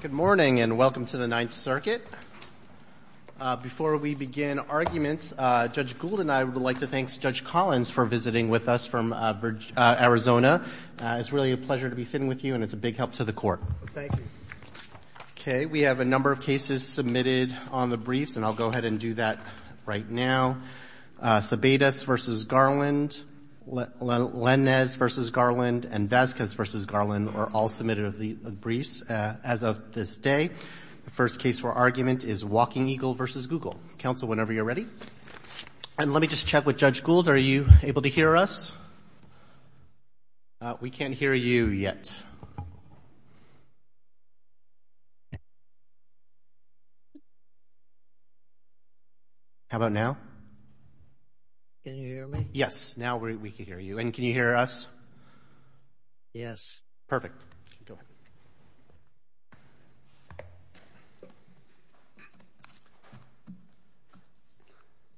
Good morning and welcome to the Ninth Circuit. Before we begin arguments, Judge Gould and I would like to thank Judge Collins for visiting with us from Arizona. It's really a pleasure to be sitting with you, and it's a big help to the court. Thank you. Okay, we have a number of cases submitted on the briefs, and I'll go ahead and do that right now. Sabaitis v. Garland, Lenez v. Garland, and Vasquez v. Garland are all submitted of the briefs as of this day. The first case for argument is Walkingeagle v. Google. Counsel, whenever you're ready. And let me just check with Judge Gould. Are you able to hear us? We can't hear you yet. Yes. How about now? Can you hear me? Yes, now we can hear you. And can you hear us? Yes. Go ahead.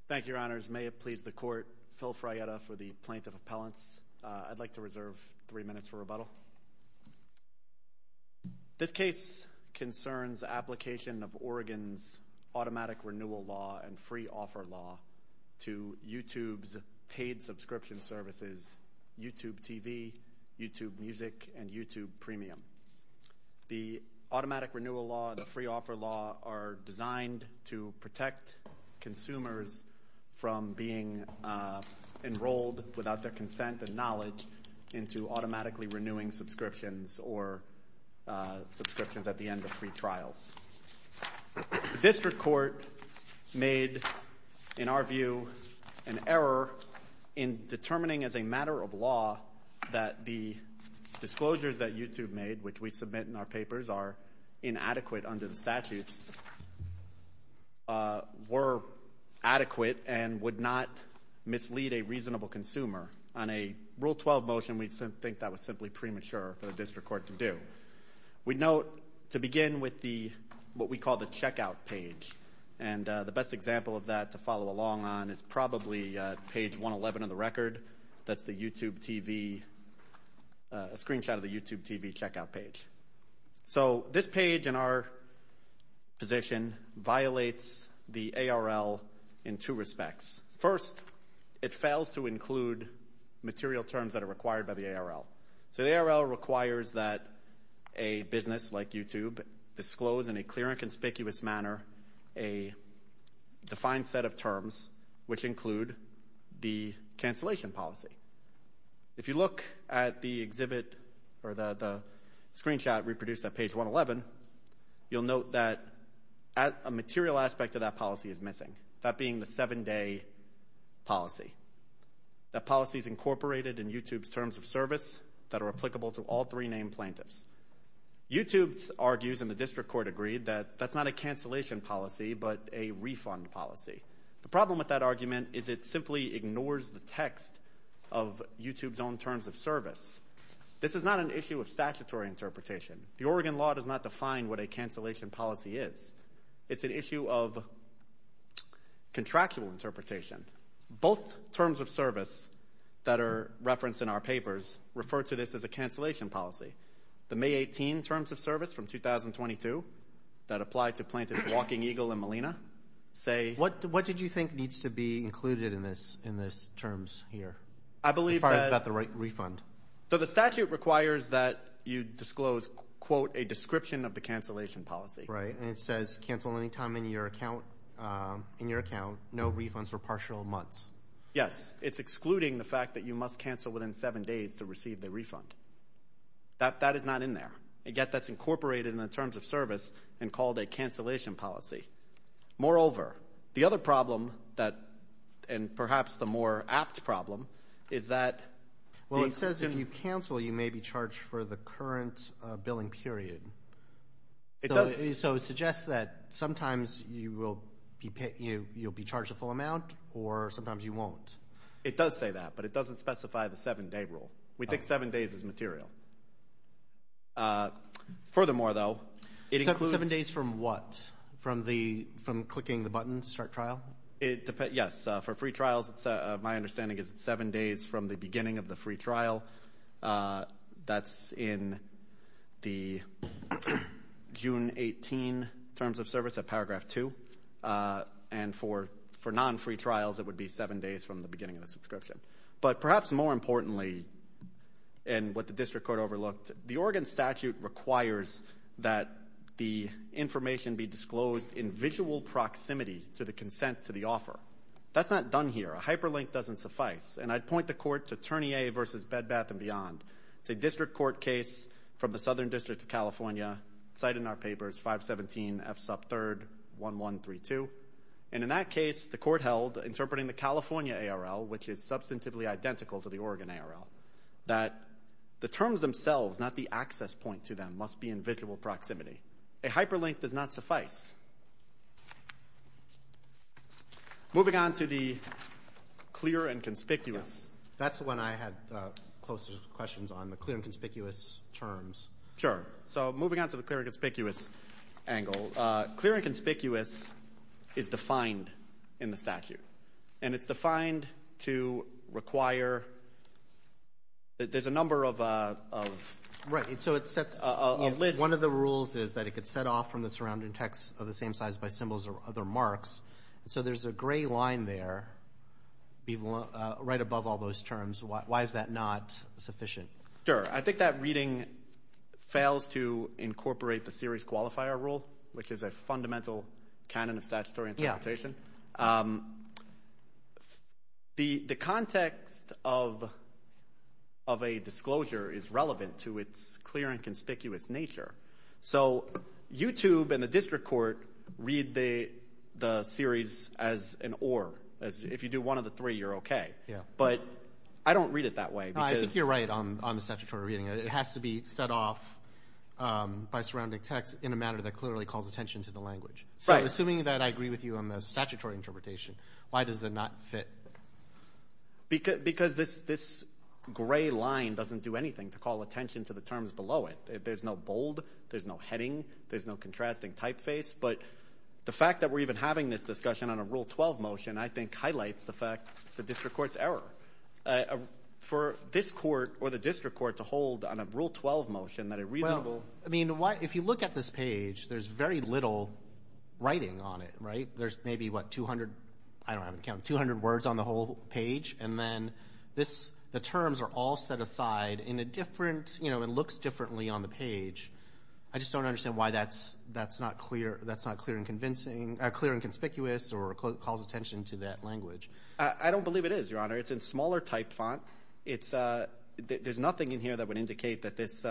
Thank you, Your Honors. May it please the court, Phil Fragetta for the plaintiff appellants. I'd like to reserve three minutes for rebuttal. This case concerns application of Oregon's automatic renewal law and free offer law to YouTube's paid subscription services, YouTube TV, YouTube Music, and YouTube Premium. The automatic renewal law and the free offer law are designed to protect consumers from being enrolled without their consent and knowledge into automatically renewing subscriptions or subscriptions at the end of free trials. The district court made, in our view, an error in determining as a matter of law that the disclosures that YouTube made, which we submit in our papers, are inadequate under the statutes, were adequate and would not mislead a reasonable consumer. On a Rule 12 motion, we think that was simply premature for the district court to do. We note, to begin with, what we call the checkout page. And the best example of that to follow along on is probably page 111 of the record. That's a screenshot of the YouTube TV checkout page. So this page, in our position, violates the ARL in two respects. First, it fails to include material terms that are required by the ARL. So the ARL requires that a business like YouTube disclose in a clear and conspicuous manner a defined set of terms, which include the cancellation policy. If you look at the exhibit or the screenshot reproduced at page 111, you'll note that a material aspect of that policy is missing, that being the seven-day policy. That policy is incorporated in YouTube's terms of service that are applicable to all three named plaintiffs. YouTube argues, and the district court agreed, that that's not a cancellation policy, but a refund policy. The problem with that argument is it simply ignores the text of YouTube's own terms of service. This is not an issue of statutory interpretation. The Oregon law does not define what a cancellation policy is. It's an issue of contractual interpretation. Both terms of service that are referenced in our papers refer to this as a cancellation policy. The May 18 terms of service from 2022 that apply to plaintiffs Walking Eagle and Molina say- What did you think needs to be included in this terms here as far as the right refund? So the statute requires that you disclose, quote, a description of the cancellation policy. Right, and it says cancel any time in your account, no refunds for partial months. Yes, it's excluding the fact that you must cancel within seven days to receive the refund. That is not in there, and yet that's incorporated in the terms of service and called a cancellation policy. Moreover, the other problem, and perhaps the more apt problem, is that- Well, it says if you cancel, you may be charged for the current billing period. So it suggests that sometimes you will be charged a full amount or sometimes you won't. It does say that, but it doesn't specify the seven-day rule. We think seven days is material. Furthermore, though- Seven days from what? From clicking the button to start trial? Yes, for free trials, my understanding is it's seven days from the beginning of the free trial. That's in the June 18 terms of service at paragraph two. And for non-free trials, it would be seven days from the beginning of the subscription. But perhaps more importantly, and what the district court overlooked, the Oregon statute requires that the information be disclosed in visual proximity to the consent to the offer. That's not done here. A hyperlink doesn't suffice. And I'd point the court to Ternier v. Bed Bath & Beyond. It's a district court case from the Southern District of California, cited in our papers, 517 F sub 3rd 1132. And in that case, the court held, interpreting the California ARL, which is substantively identical to the Oregon ARL, that the terms themselves, not the access point to them, must be in visual proximity. A hyperlink does not suffice. Moving on to the clear and conspicuous, that's when I had closer questions on the clear and conspicuous terms. Sure. So moving on to the clear and conspicuous angle, clear and conspicuous is defined in the statute. And it's defined to require, there's a number of a list. One of the rules is that it could set off from the surrounding text of the same size by symbols or other marks. So there's a gray line there, right above all those terms. Why is that not sufficient? Sure. I think that reading fails to incorporate the series qualifier rule, which is a fundamental canon of statutory interpretation. The context of a disclosure is relevant to its clear and conspicuous nature. So YouTube and the district court read the series as an or. If you do one of the three, you're okay. But I don't read it that way. I think you're right on the statutory reading. It has to be set off by surrounding text in a manner that clearly calls attention to the language. So assuming that I agree with you on the statutory interpretation, why does it not fit? Because this gray line doesn't do anything to call attention to the terms below it. There's no bold. There's no heading. There's no contrasting typeface. But the fact that we're even having this discussion on a Rule 12 motion I think highlights the fact the district court's error. For this court or the district court to hold on a Rule 12 motion that a reasonable – I mean, if you look at this page, there's very little writing on it, right? There's maybe, what, 200 words on the whole page, and then the terms are all set aside in a different – it looks differently on the page. I just don't understand why that's not clear and convincing – clear and conspicuous or calls attention to that language. I don't believe it is, Your Honor. It's in smaller type font. There's nothing in here that would indicate that this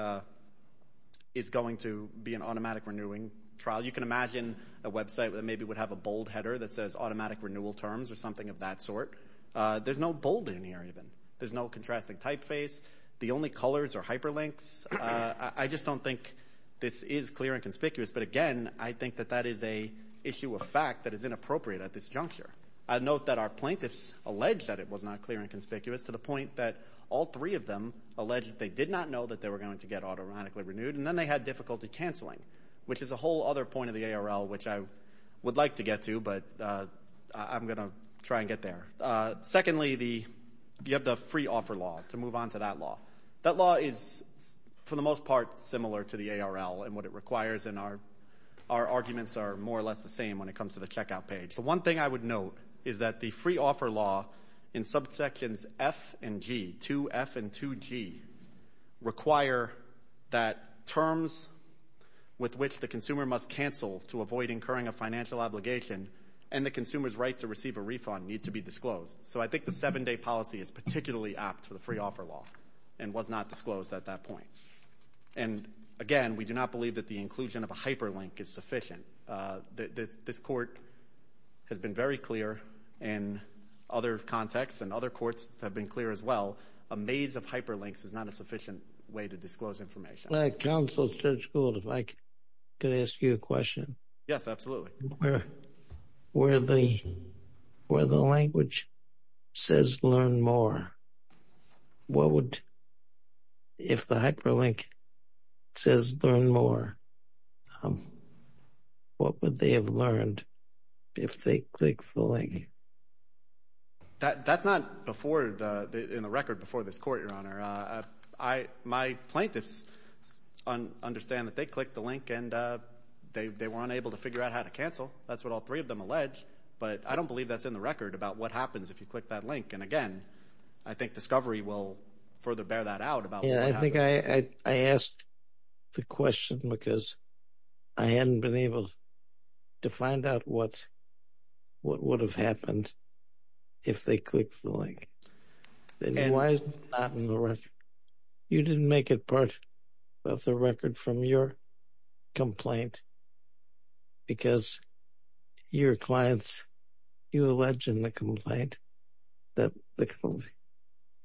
is going to be an automatic renewing trial. You can imagine a website that maybe would have a bold header that says automatic renewal terms or something of that sort. There's no bold in here even. There's no contrasting typeface. The only colors are hyperlinks. I just don't think this is clear and conspicuous. But, again, I think that that is an issue of fact that is inappropriate at this juncture. I note that our plaintiffs allege that it was not clear and conspicuous to the point that all three of them alleged that they did not know that they were going to get automatically renewed, and then they had difficulty canceling, which is a whole other point of the ARL, which I would like to get to, but I'm going to try and get there. Secondly, you have the free offer law, to move on to that law. That law is, for the most part, similar to the ARL in what it requires, and our arguments are more or less the same when it comes to the checkout page. The one thing I would note is that the free offer law in subsections F and G, 2F and 2G, require that terms with which the consumer must cancel to avoid incurring a financial obligation and the consumer's right to receive a refund need to be disclosed. So I think the seven-day policy is particularly apt for the free offer law and was not disclosed at that point. And, again, we do not believe that the inclusion of a hyperlink is sufficient. This court has been very clear in other contexts and other courts have been clear as well. A maze of hyperlinks is not a sufficient way to disclose information. Counsel, Judge Gould, if I could ask you a question. Yes, absolutely. Where the language says learn more, what would, if the hyperlink says learn more, what would they have learned if they clicked the link? That's not in the record before this court, Your Honor. My plaintiffs understand that they clicked the link and they were unable to figure out how to cancel. That's what all three of them allege. But I don't believe that's in the record about what happens if you click that link. And, again, I think discovery will further bear that out about what happens. I think I asked the question because I hadn't been able to find out what would have happened if they clicked the link. Then why is it not in the record? You didn't make it part of the record from your complaint because your clients, you allege in the complaint that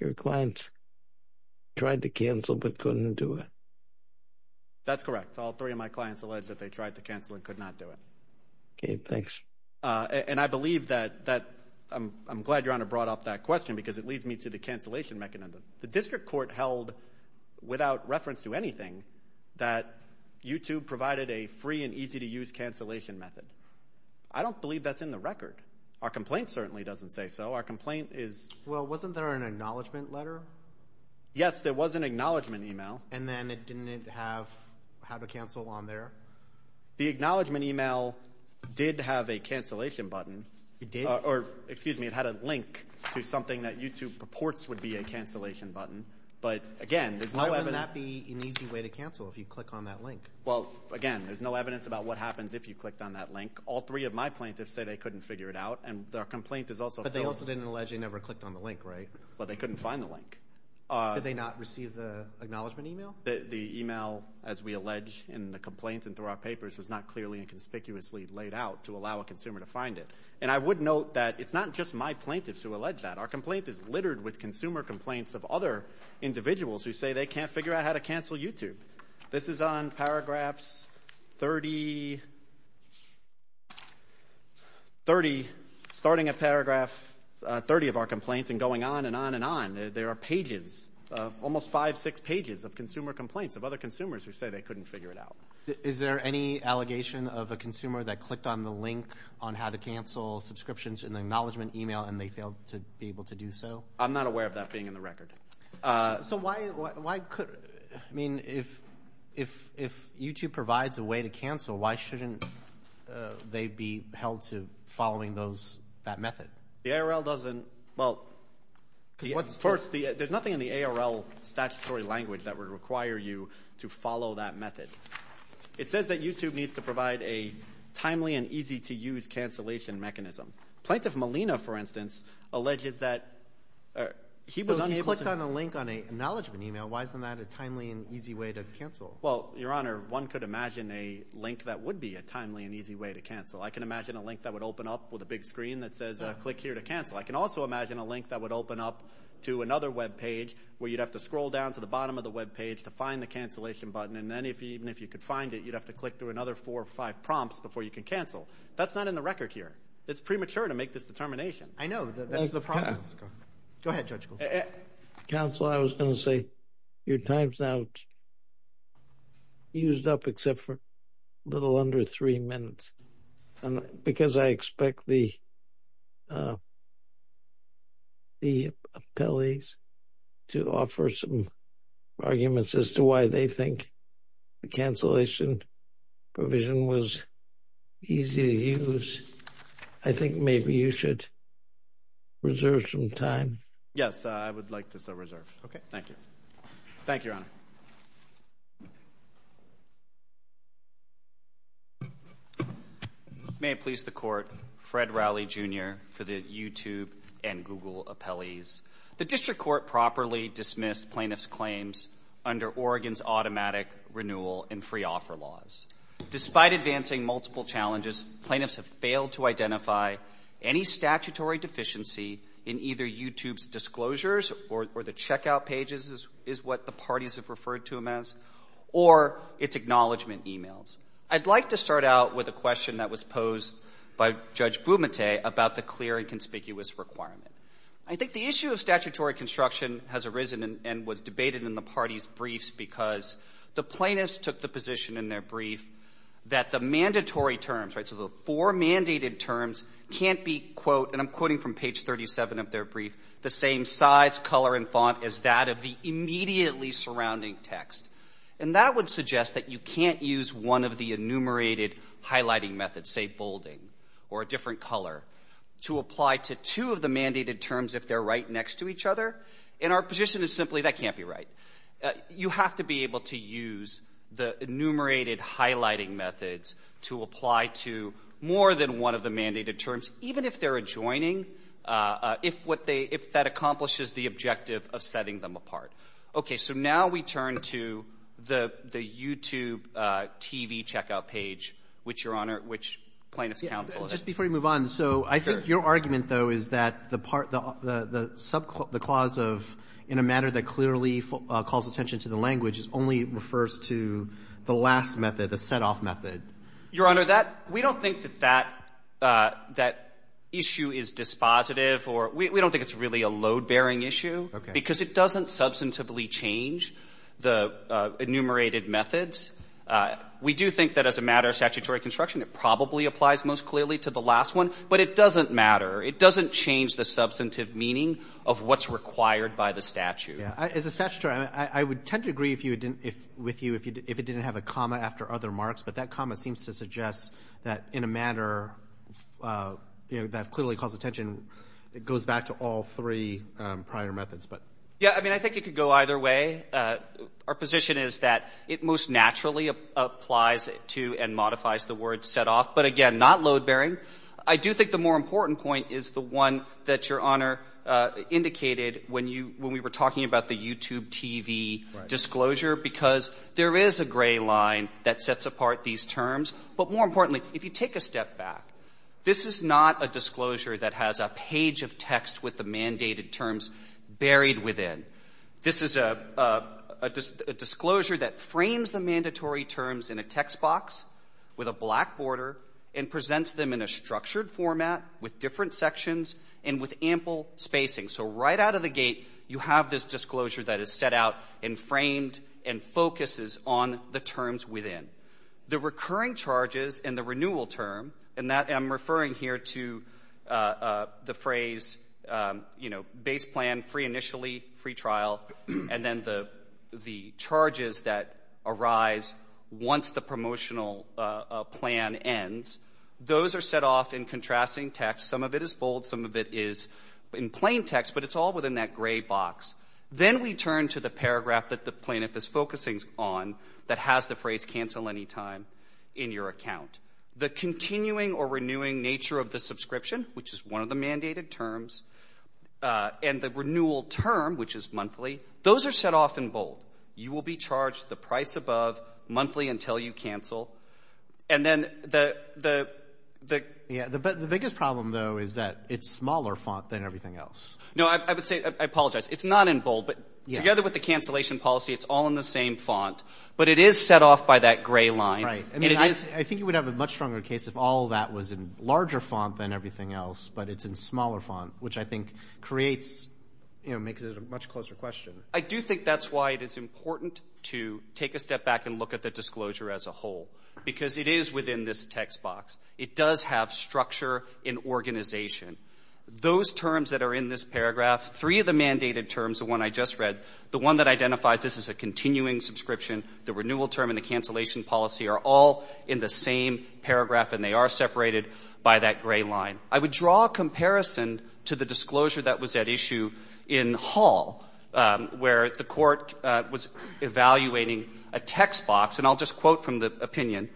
your clients tried to cancel but couldn't do it. That's correct. All three of my clients allege that they tried to cancel and could not do it. Okay, thanks. And I believe that, I'm glad Your Honor brought up that question because it leads me to the cancellation mechanism. The district court held, without reference to anything, that YouTube provided a free and easy-to-use cancellation method. I don't believe that's in the record. Our complaint certainly doesn't say so. Our complaint is – Well, wasn't there an acknowledgment letter? Yes, there was an acknowledgment email. And then it didn't have a cancel on there? The acknowledgment email did have a cancellation button. It did? Or, excuse me, it had a link to something that YouTube purports would be a cancellation button. But, again, there's no evidence – How would that be an easy way to cancel if you click on that link? Well, again, there's no evidence about what happens if you clicked on that link. All three of my plaintiffs say they couldn't figure it out, and their complaint is also – But they also didn't allege they never clicked on the link, right? Well, they couldn't find the link. Did they not receive the acknowledgment email? The email, as we allege in the complaint and through our papers, was not clearly and conspicuously laid out to allow a consumer to find it. And I would note that it's not just my plaintiffs who allege that. Our complaint is littered with consumer complaints of other individuals who say they can't figure out how to cancel YouTube. This is on Paragraphs 30, starting at Paragraph 30 of our complaint and going on and on and on. There are pages, almost five, six pages of consumer complaints of other consumers who say they couldn't figure it out. Is there any allegation of a consumer that clicked on the link on how to cancel subscriptions in the acknowledgment email and they failed to be able to do so? I'm not aware of that being in the record. So why could – I mean if YouTube provides a way to cancel, why shouldn't they be held to following those – that method? The ARL doesn't – well, first, there's nothing in the ARL statutory language that would require you to follow that method. It says that YouTube needs to provide a timely and easy-to-use cancellation mechanism. Plaintiff Molina, for instance, alleges that he was unable to – If he clicked on a link on an acknowledgment email, why isn't that a timely and easy way to cancel? Well, Your Honor, one could imagine a link that would be a timely and easy way to cancel. I can imagine a link that would open up with a big screen that says click here to cancel. I can also imagine a link that would open up to another webpage where you'd have to scroll down to the bottom of the webpage to find the cancellation button. And then even if you could find it, you'd have to click through another four or five prompts before you can cancel. That's not in the record here. It's premature to make this determination. I know. That's the problem. Go ahead, Judge Goldberg. Counsel, I was going to say your time's now used up except for a little under three minutes. Because I expect the appellees to offer some arguments as to why they think the cancellation provision was easy to use, I think maybe you should reserve some time. Yes, I would like to reserve. Okay, thank you. Thank you, Your Honor. May it please the Court, Fred Rowley, Jr., for the YouTube and Google appellees. The District Court properly dismissed plaintiffs' claims under Oregon's automatic renewal and free offer laws. Despite advancing multiple challenges, plaintiffs have failed to identify any statutory deficiency in either YouTube's disclosures, or the checkout pages is what the parties have referred to them as, or its acknowledgement emails. I'd like to start out with a question that was posed by Judge Bumate about the clear and conspicuous requirement. I think the issue of statutory construction has arisen and was debated in the parties' briefs because the plaintiffs took the position in their brief that the mandatory terms, so the four mandated terms, can't be, and I'm quoting from page 37 of their brief, the same size, color, and font as that of the immediately surrounding text. And that would suggest that you can't use one of the enumerated highlighting methods, say bolding or a different color, to apply to two of the mandated terms if they're right next to each other. And our position is simply that can't be right. You have to be able to use the enumerated highlighting methods to apply to more than one of the mandated terms, even if they're adjoining, if that accomplishes the objective of setting them apart. Okay. So now we turn to the YouTube TV checkout page, which, Your Honor, which plaintiffs counseled. Just before you move on, so I think your argument, though, is that the part, the clause of in a matter that clearly calls attention to the language only refers to the last method, the set-off method. Your Honor, we don't think that that issue is dispositive, or we don't think it's really a load-bearing issue. Okay. Because it doesn't substantively change the enumerated methods. We do think that as a matter of statutory construction, it probably applies most clearly to the last one. But it doesn't matter. It doesn't change the substantive meaning of what's required by the statute. As a statutory, I would tend to agree with you if it didn't have a comma after other marks. But that comma seems to suggest that in a matter that clearly calls attention, it goes back to all three prior methods. Yeah, I mean, I think it could go either way. Our position is that it most naturally applies to and modifies the word set-off. But, again, not load-bearing. I do think the more important point is the one that Your Honor indicated when we were talking about the YouTube TV disclosure, because there is a gray line that sets apart these terms. But more importantly, if you take a step back, this is not a disclosure that has a page of text with the mandated terms buried within. This is a disclosure that frames the mandatory terms in a text box with a black border and presents them in a structured format with different sections and with ample spacing. So right out of the gate, you have this disclosure that is set out and framed and focuses on the terms within. The recurring charges and the renewal term, and I'm referring here to the phrase, you know, base plan, free initially, free trial, and then the charges that arise once the promotional plan ends, those are set off in contrasting text. Some of it is bold. Some of it is in plain text, but it's all within that gray box. Then we turn to the paragraph that the plaintiff is focusing on that has the phrase cancel anytime in your account. The continuing or renewing nature of the subscription, which is one of the mandated terms, and the renewal term, which is monthly, those are set off in bold. You will be charged the price above monthly until you cancel. The biggest problem, though, is that it's smaller font than everything else. No, I apologize. It's not in bold, but together with the cancellation policy, it's all in the same font, but it is set off by that gray line. I think you would have a much stronger case if all of that was in larger font than everything else, but it's in smaller font, which I think creates, you know, makes it a much closer question. I do think that's why it is important to take a step back and look at the disclosure as a whole, because it is within this text box. It does have structure and organization. Those terms that are in this paragraph, three of the mandated terms, the one I just read, the one that identifies this as a continuing subscription, the renewal term, and the cancellation policy are all in the same paragraph, and they are separated by that gray line. I would draw a comparison to the disclosure that was at issue in Hall, where the court was evaluating a text box, and I'll just quote from the opinion.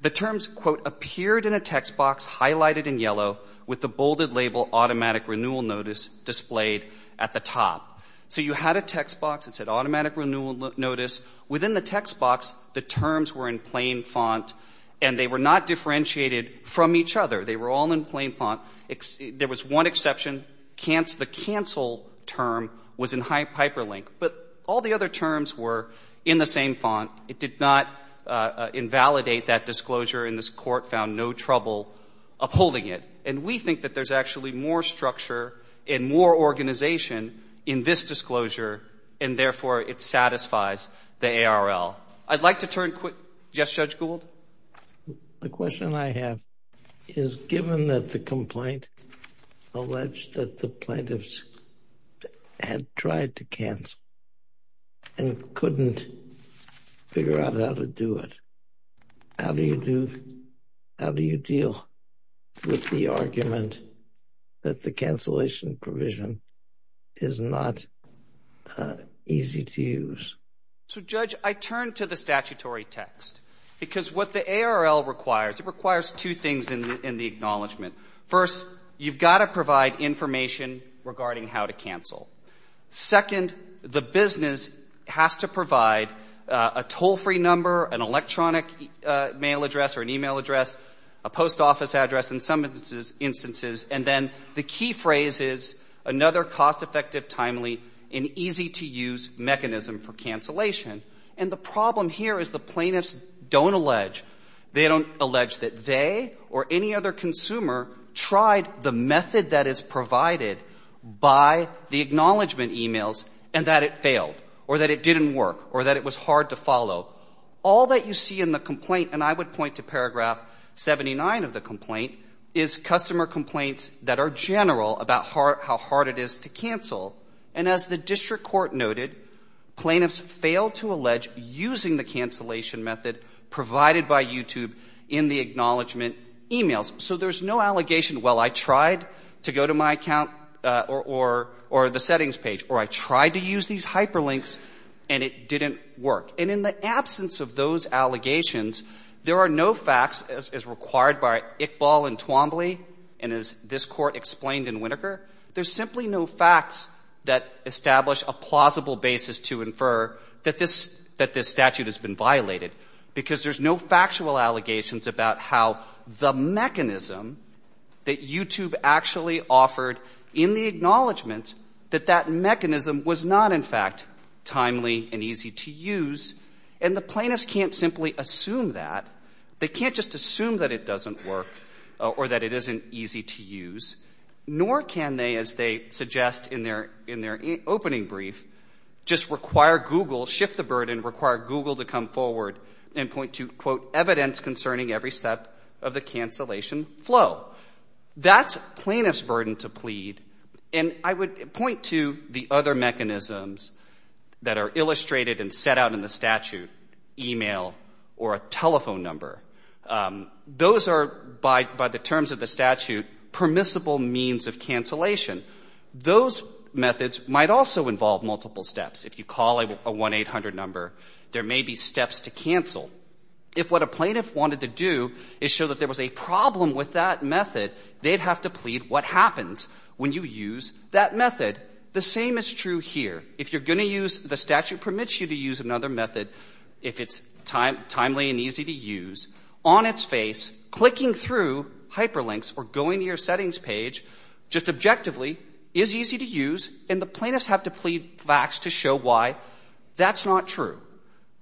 The terms, quote, appeared in a text box, highlighted in yellow, with the bolded label Automatic Renewal Notice displayed at the top. So you had a text box that said Automatic Renewal Notice. Within the text box, the terms were in plain font, and they were not differentiated from each other. They were all in plain font. There was one exception. The cancel term was in hyperlink. But all the other terms were in the same font. It did not invalidate that disclosure, and this court found no trouble upholding it. And we think that there's actually more structure and more organization in this disclosure, and therefore it satisfies the ARL. I'd like to turn quick. Yes, Judge Gould? The question I have is, given that the complaint alleged that the plaintiffs had tried to cancel and couldn't figure out how to do it, how do you deal with the argument that the cancellation provision is not easy to use? So, Judge, I turn to the statutory text, because what the ARL requires, it requires two things in the acknowledgment. First, you've got to provide information regarding how to cancel. Second, the business has to provide a toll-free number, an electronic mail address or an e-mail address, a post office address in some instances, and then the key phrase is another cost-effective, timely, and easy-to-use mechanism for cancellation. And the problem here is the plaintiffs don't allege. They don't allege that they or any other consumer tried the method that is provided by the acknowledgment e-mails and that it failed or that it didn't work or that it was hard to follow. All that you see in the complaint, and I would point to paragraph 79 of the complaint, is customer complaints that are general about how hard it is to cancel. And as the district court noted, plaintiffs failed to allege using the cancellation method provided by YouTube in the acknowledgment e-mails. So there's no allegation, well, I tried to go to my account or the settings page, or I tried to use these hyperlinks and it didn't work. And in the absence of those allegations, there are no facts, as required by Iqbal and Twombly and as this Court explained in Winokur, there's simply no facts that establish a plausible basis to infer that this statute has been violated because there's no factual allegations about how the mechanism that YouTube actually offered in the acknowledgment, that that mechanism was not, in fact, timely and easy to use. And the plaintiffs can't simply assume that. They can't just assume that it doesn't work or that it isn't easy to use, nor can they, as they suggest in their opening brief, just require Google, shift the burden, require Google to come forward and point to, quote, evidence concerning every step of the cancellation flow. That's plaintiff's burden to plead, and I would point to the other mechanisms that are illustrated and set out in the statute, e-mail or a telephone number. Those are, by the terms of the statute, permissible means of cancellation. Those methods might also involve multiple steps. If you call a 1-800 number, there may be steps to cancel. If what a plaintiff wanted to do is show that there was a problem with that method, they'd have to plead what happens when you use that method. The same is true here. If you're going to use the statute permits you to use another method, if it's timely and easy to use, on its face, clicking through hyperlinks or going to your settings page just objectively is easy to use, and the plaintiffs have to plead facts to show why. That's not true.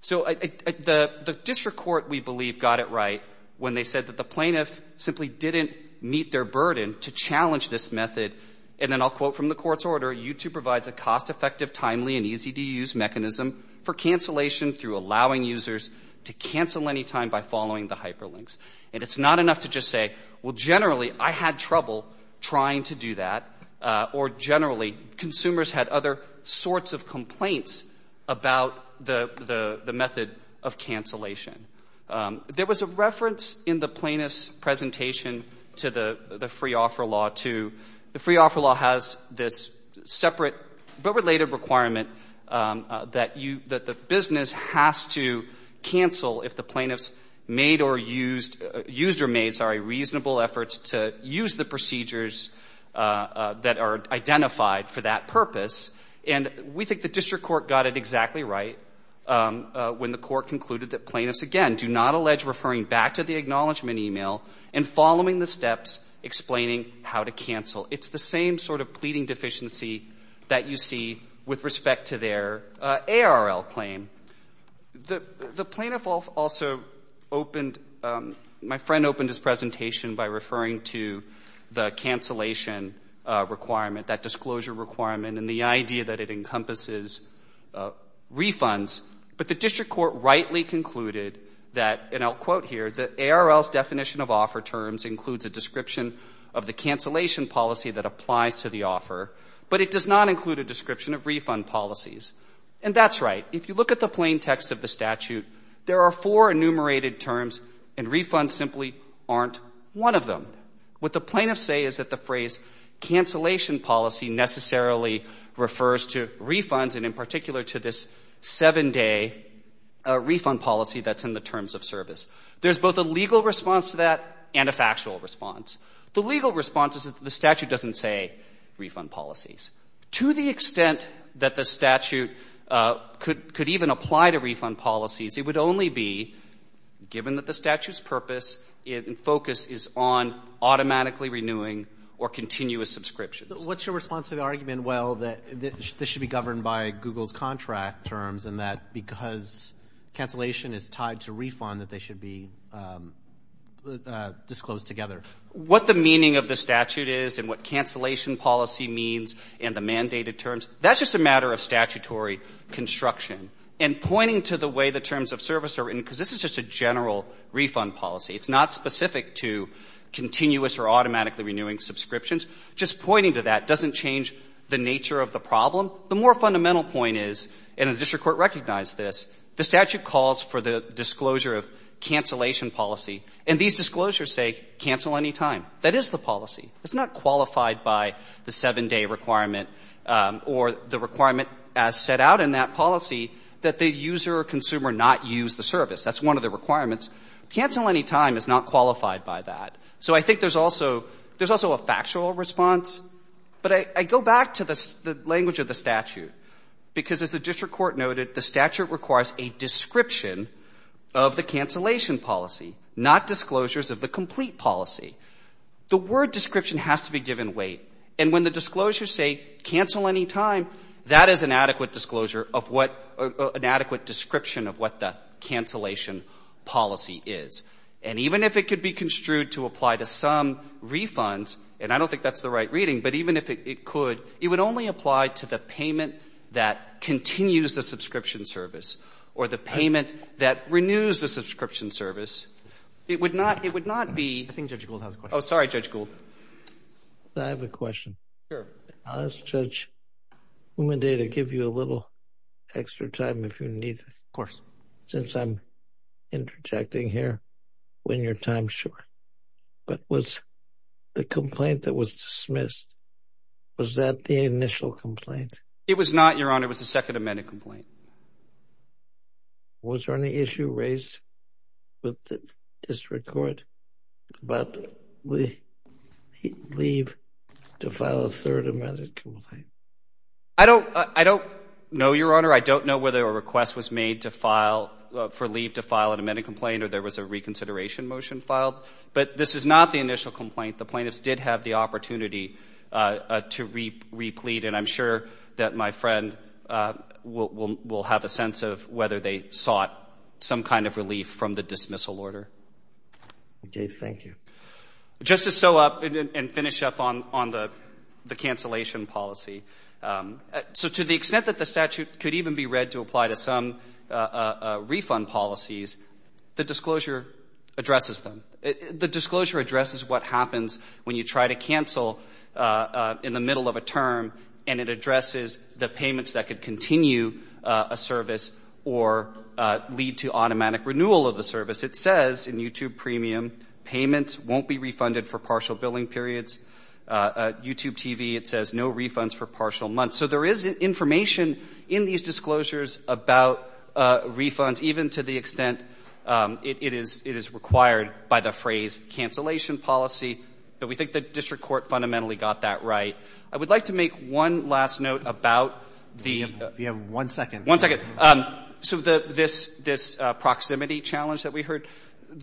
So the district court, we believe, got it right when they said that the plaintiff simply didn't meet their burden to challenge this method, and then I'll quote from the court's order, YouTube provides a cost-effective, timely, and easy-to-use mechanism for cancellation through allowing users to cancel anytime by following the hyperlinks. And it's not enough to just say, well, generally, I had trouble trying to do that, or generally, consumers had other sorts of complaints about the method of cancellation. There was a reference in the plaintiff's presentation to the free-offer law, too. The free-offer law has this separate but related requirement that the business has to cancel if the plaintiffs used or made reasonable efforts to use the procedures that are identified for that purpose, and we think the district court got it exactly right when the court concluded that plaintiffs, again, do not allege referring back to the acknowledgment email and following the steps explaining how to cancel. It's the same sort of pleading deficiency that you see with respect to their ARL claim. The plaintiff also opened, my friend opened his presentation by referring to the cancellation requirement, that disclosure requirement, and the idea that it encompasses refunds, but the district court rightly concluded that, and I'll quote here, the ARL's definition of offer terms includes a description of the cancellation policy that applies to the offer, but it does not include a description of refund policies. And that's right. If you look at the plain text of the statute, there are four enumerated terms, and refunds simply aren't one of them. What the plaintiffs say is that the phrase cancellation policy necessarily refers to refunds and in particular to this seven-day refund policy that's in the terms of service. There's both a legal response to that and a factual response. The legal response is that the statute doesn't say refund policies. To the extent that the statute could even apply to refund policies, it would only be given that the statute's purpose and focus is on automatically renewing or continuous subscriptions. What's your response to the argument, well, that this should be governed by Google's contract terms and that because cancellation is tied to refund that they should be disclosed together? What the meaning of the statute is and what cancellation policy means and the mandated terms, that's just a matter of statutory construction. And pointing to the way the terms of service are written, because this is just a general refund policy, it's not specific to continuous or automatically renewing subscriptions, just pointing to that doesn't change the nature of the problem. The more fundamental point is, and the district court recognized this, the statute calls for the disclosure of cancellation policy. And these disclosures say cancel anytime. That is the policy. It's not qualified by the 7-day requirement or the requirement as set out in that policy that the user or consumer not use the service. That's one of the requirements. Cancel anytime is not qualified by that. So I think there's also a factual response. But I go back to the language of the statute, because as the district court noted, the statute requires a description of the cancellation policy, not disclosures of the complete policy. The word description has to be given weight. And when the disclosures say cancel anytime, that is an adequate disclosure of what an adequate description of what the cancellation policy is. And even if it could be construed to apply to some refunds, and I don't think that's the right reading, but even if it could, it would only apply to the payment that continues the subscription service or the payment that renews the subscription service. It would not be. I think Judge Gould has a question. Oh, sorry, Judge Gould. I have a question. Sure. I'll ask Judge Umendade to give you a little extra time if you need it. Of course. Since I'm interjecting here, when your time's short. But was the complaint that was dismissed, was that the initial complaint? It was not, Your Honor. It was the second amended complaint. Was there any issue raised with the district court about leave to file a third amended complaint? I don't know, Your Honor. I don't know whether a request was made for leave to file an amended complaint or there was a reconsideration motion filed. But this is not the initial complaint. The plaintiffs did have the opportunity to replete, and I'm sure that my friend will have a sense of whether they sought some kind of relief from the dismissal order. Okay. Thank you. Just to show up and finish up on the cancellation policy. So to the extent that the statute could even be read to apply to some refund policies, the disclosure addresses them. The disclosure addresses what happens when you try to cancel in the middle of a term, and it addresses the payments that could continue a service or lead to automatic renewal of the service. It says in YouTube Premium, payments won't be refunded for partial billing periods. YouTube TV, it says no refunds for partial months. So there is information in these disclosures about refunds, even to the extent it is required by the phrase cancellation policy, but we think the district court fundamentally got that right. I would like to make one last note about the – We have one second. One second. So this proximity challenge that we heard,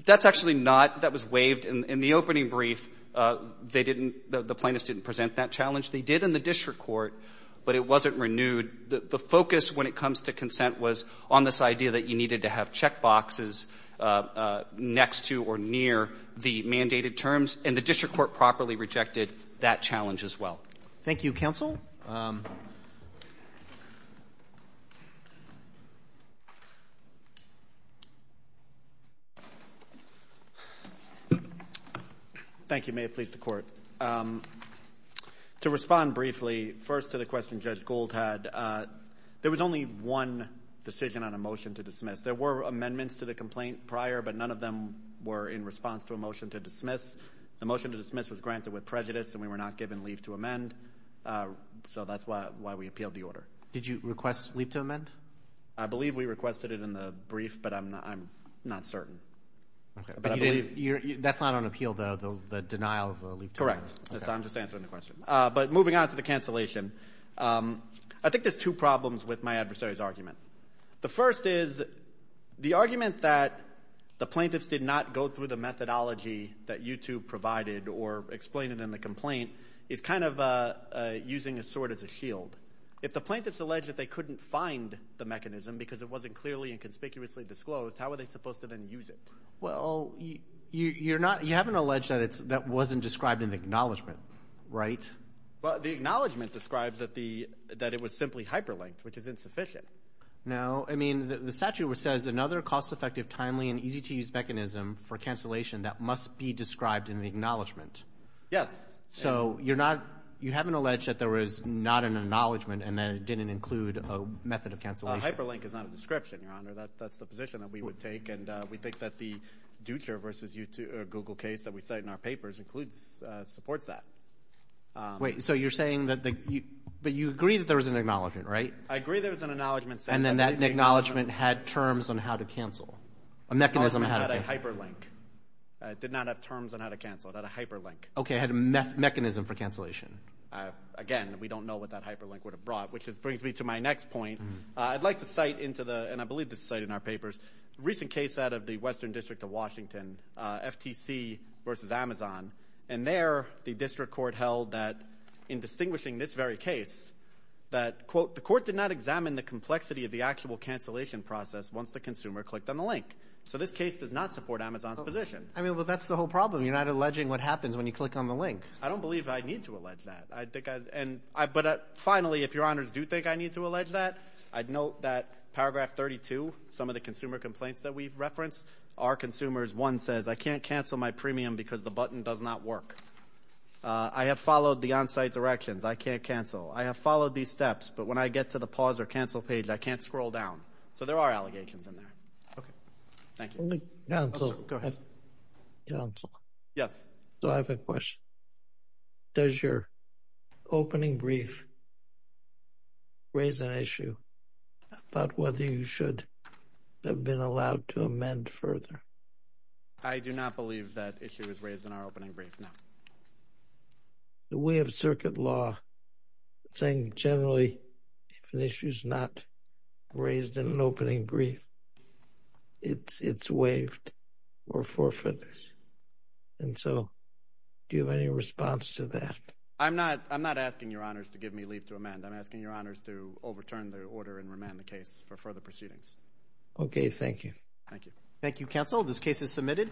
that's actually not – that was waived in the opening brief. They didn't – the plaintiffs didn't present that challenge. They did in the district court, but it wasn't renewed. The focus when it comes to consent was on this idea that you needed to have checkboxes next to or near the mandated terms, and the district court properly rejected that challenge as well. Thank you, counsel. Thank you. Thank you. May it please the court. To respond briefly, first to the question Judge Gould had, there was only one decision on a motion to dismiss. There were amendments to the complaint prior, but none of them were in response to a motion to dismiss. The motion to dismiss was granted with prejudice, and we were not given leave to amend, so that's why we appealed the order. Did you request leave to amend? I believe we requested it in the brief, but I'm not certain. Okay. That's not on appeal, though, the denial of leave to amend? Correct. That's why I'm just answering the question. But moving on to the cancellation, I think there's two problems with my adversary's argument. The first is the argument that the plaintiffs did not go through the methodology that you two provided or explained in the complaint is kind of using a sword as a shield. If the plaintiffs allege that they couldn't find the mechanism because it wasn't clearly and conspicuously disclosed, how were they supposed to then use it? Well, you haven't alleged that that wasn't described in the acknowledgment, right? The acknowledgment describes that it was simply hyperlinked, which is insufficient. No. I mean, the statute says another cost-effective, timely, and easy-to-use mechanism for cancellation that must be described in the acknowledgment. Yes. So you haven't alleged that there was not an acknowledgment and that it didn't include a method of cancellation. Hyperlink is not a description, Your Honor. That's the position that we would take, and we think that the Dutcher v. Google case that we cite in our papers supports that. Wait. So you're saying that you agree that there was an acknowledgment, right? I agree there was an acknowledgment set up. And then that acknowledgment had terms on how to cancel, a mechanism. The acknowledgment had a hyperlink. It did not have terms on how to cancel. It had a hyperlink. Okay. It had a mechanism for cancellation. Again, we don't know what that hyperlink would have brought, which brings me to my next point. I'd like to cite into the – and I believe this is cited in our papers – a recent case out of the Western District of Washington, FTC v. Amazon. And there the district court held that, in distinguishing this very case, that, quote, the court did not examine the complexity of the actual cancellation process once the consumer clicked on the link. So this case does not support Amazon's position. I mean, but that's the whole problem. You're not alleging what happens when you click on the link. I don't believe I need to allege that. But finally, if Your Honors do think I need to allege that, I'd note that Paragraph 32, some of the consumer complaints that we've referenced, are consumers. One says, I can't cancel my premium because the button does not work. I have followed the on-site directions. I can't cancel. I have followed these steps, but when I get to the pause or cancel page, I can't scroll down. So there are allegations in there. Okay. Thank you. Counsel. Go ahead. Counsel. Yes. So I have a question. Does your opening brief raise an issue about whether you should have been allowed to amend further? I do not believe that issue is raised in our opening brief, no. We have circuit law saying generally if an issue is not raised in an opening brief, it's waived or forfeited. And so do you have any response to that? I'm not asking Your Honors to give me leave to amend. I'm asking Your Honors to overturn the order and remand the case for further proceedings. Okay. Thank you. Thank you. Thank you, Counsel. This case is submitted.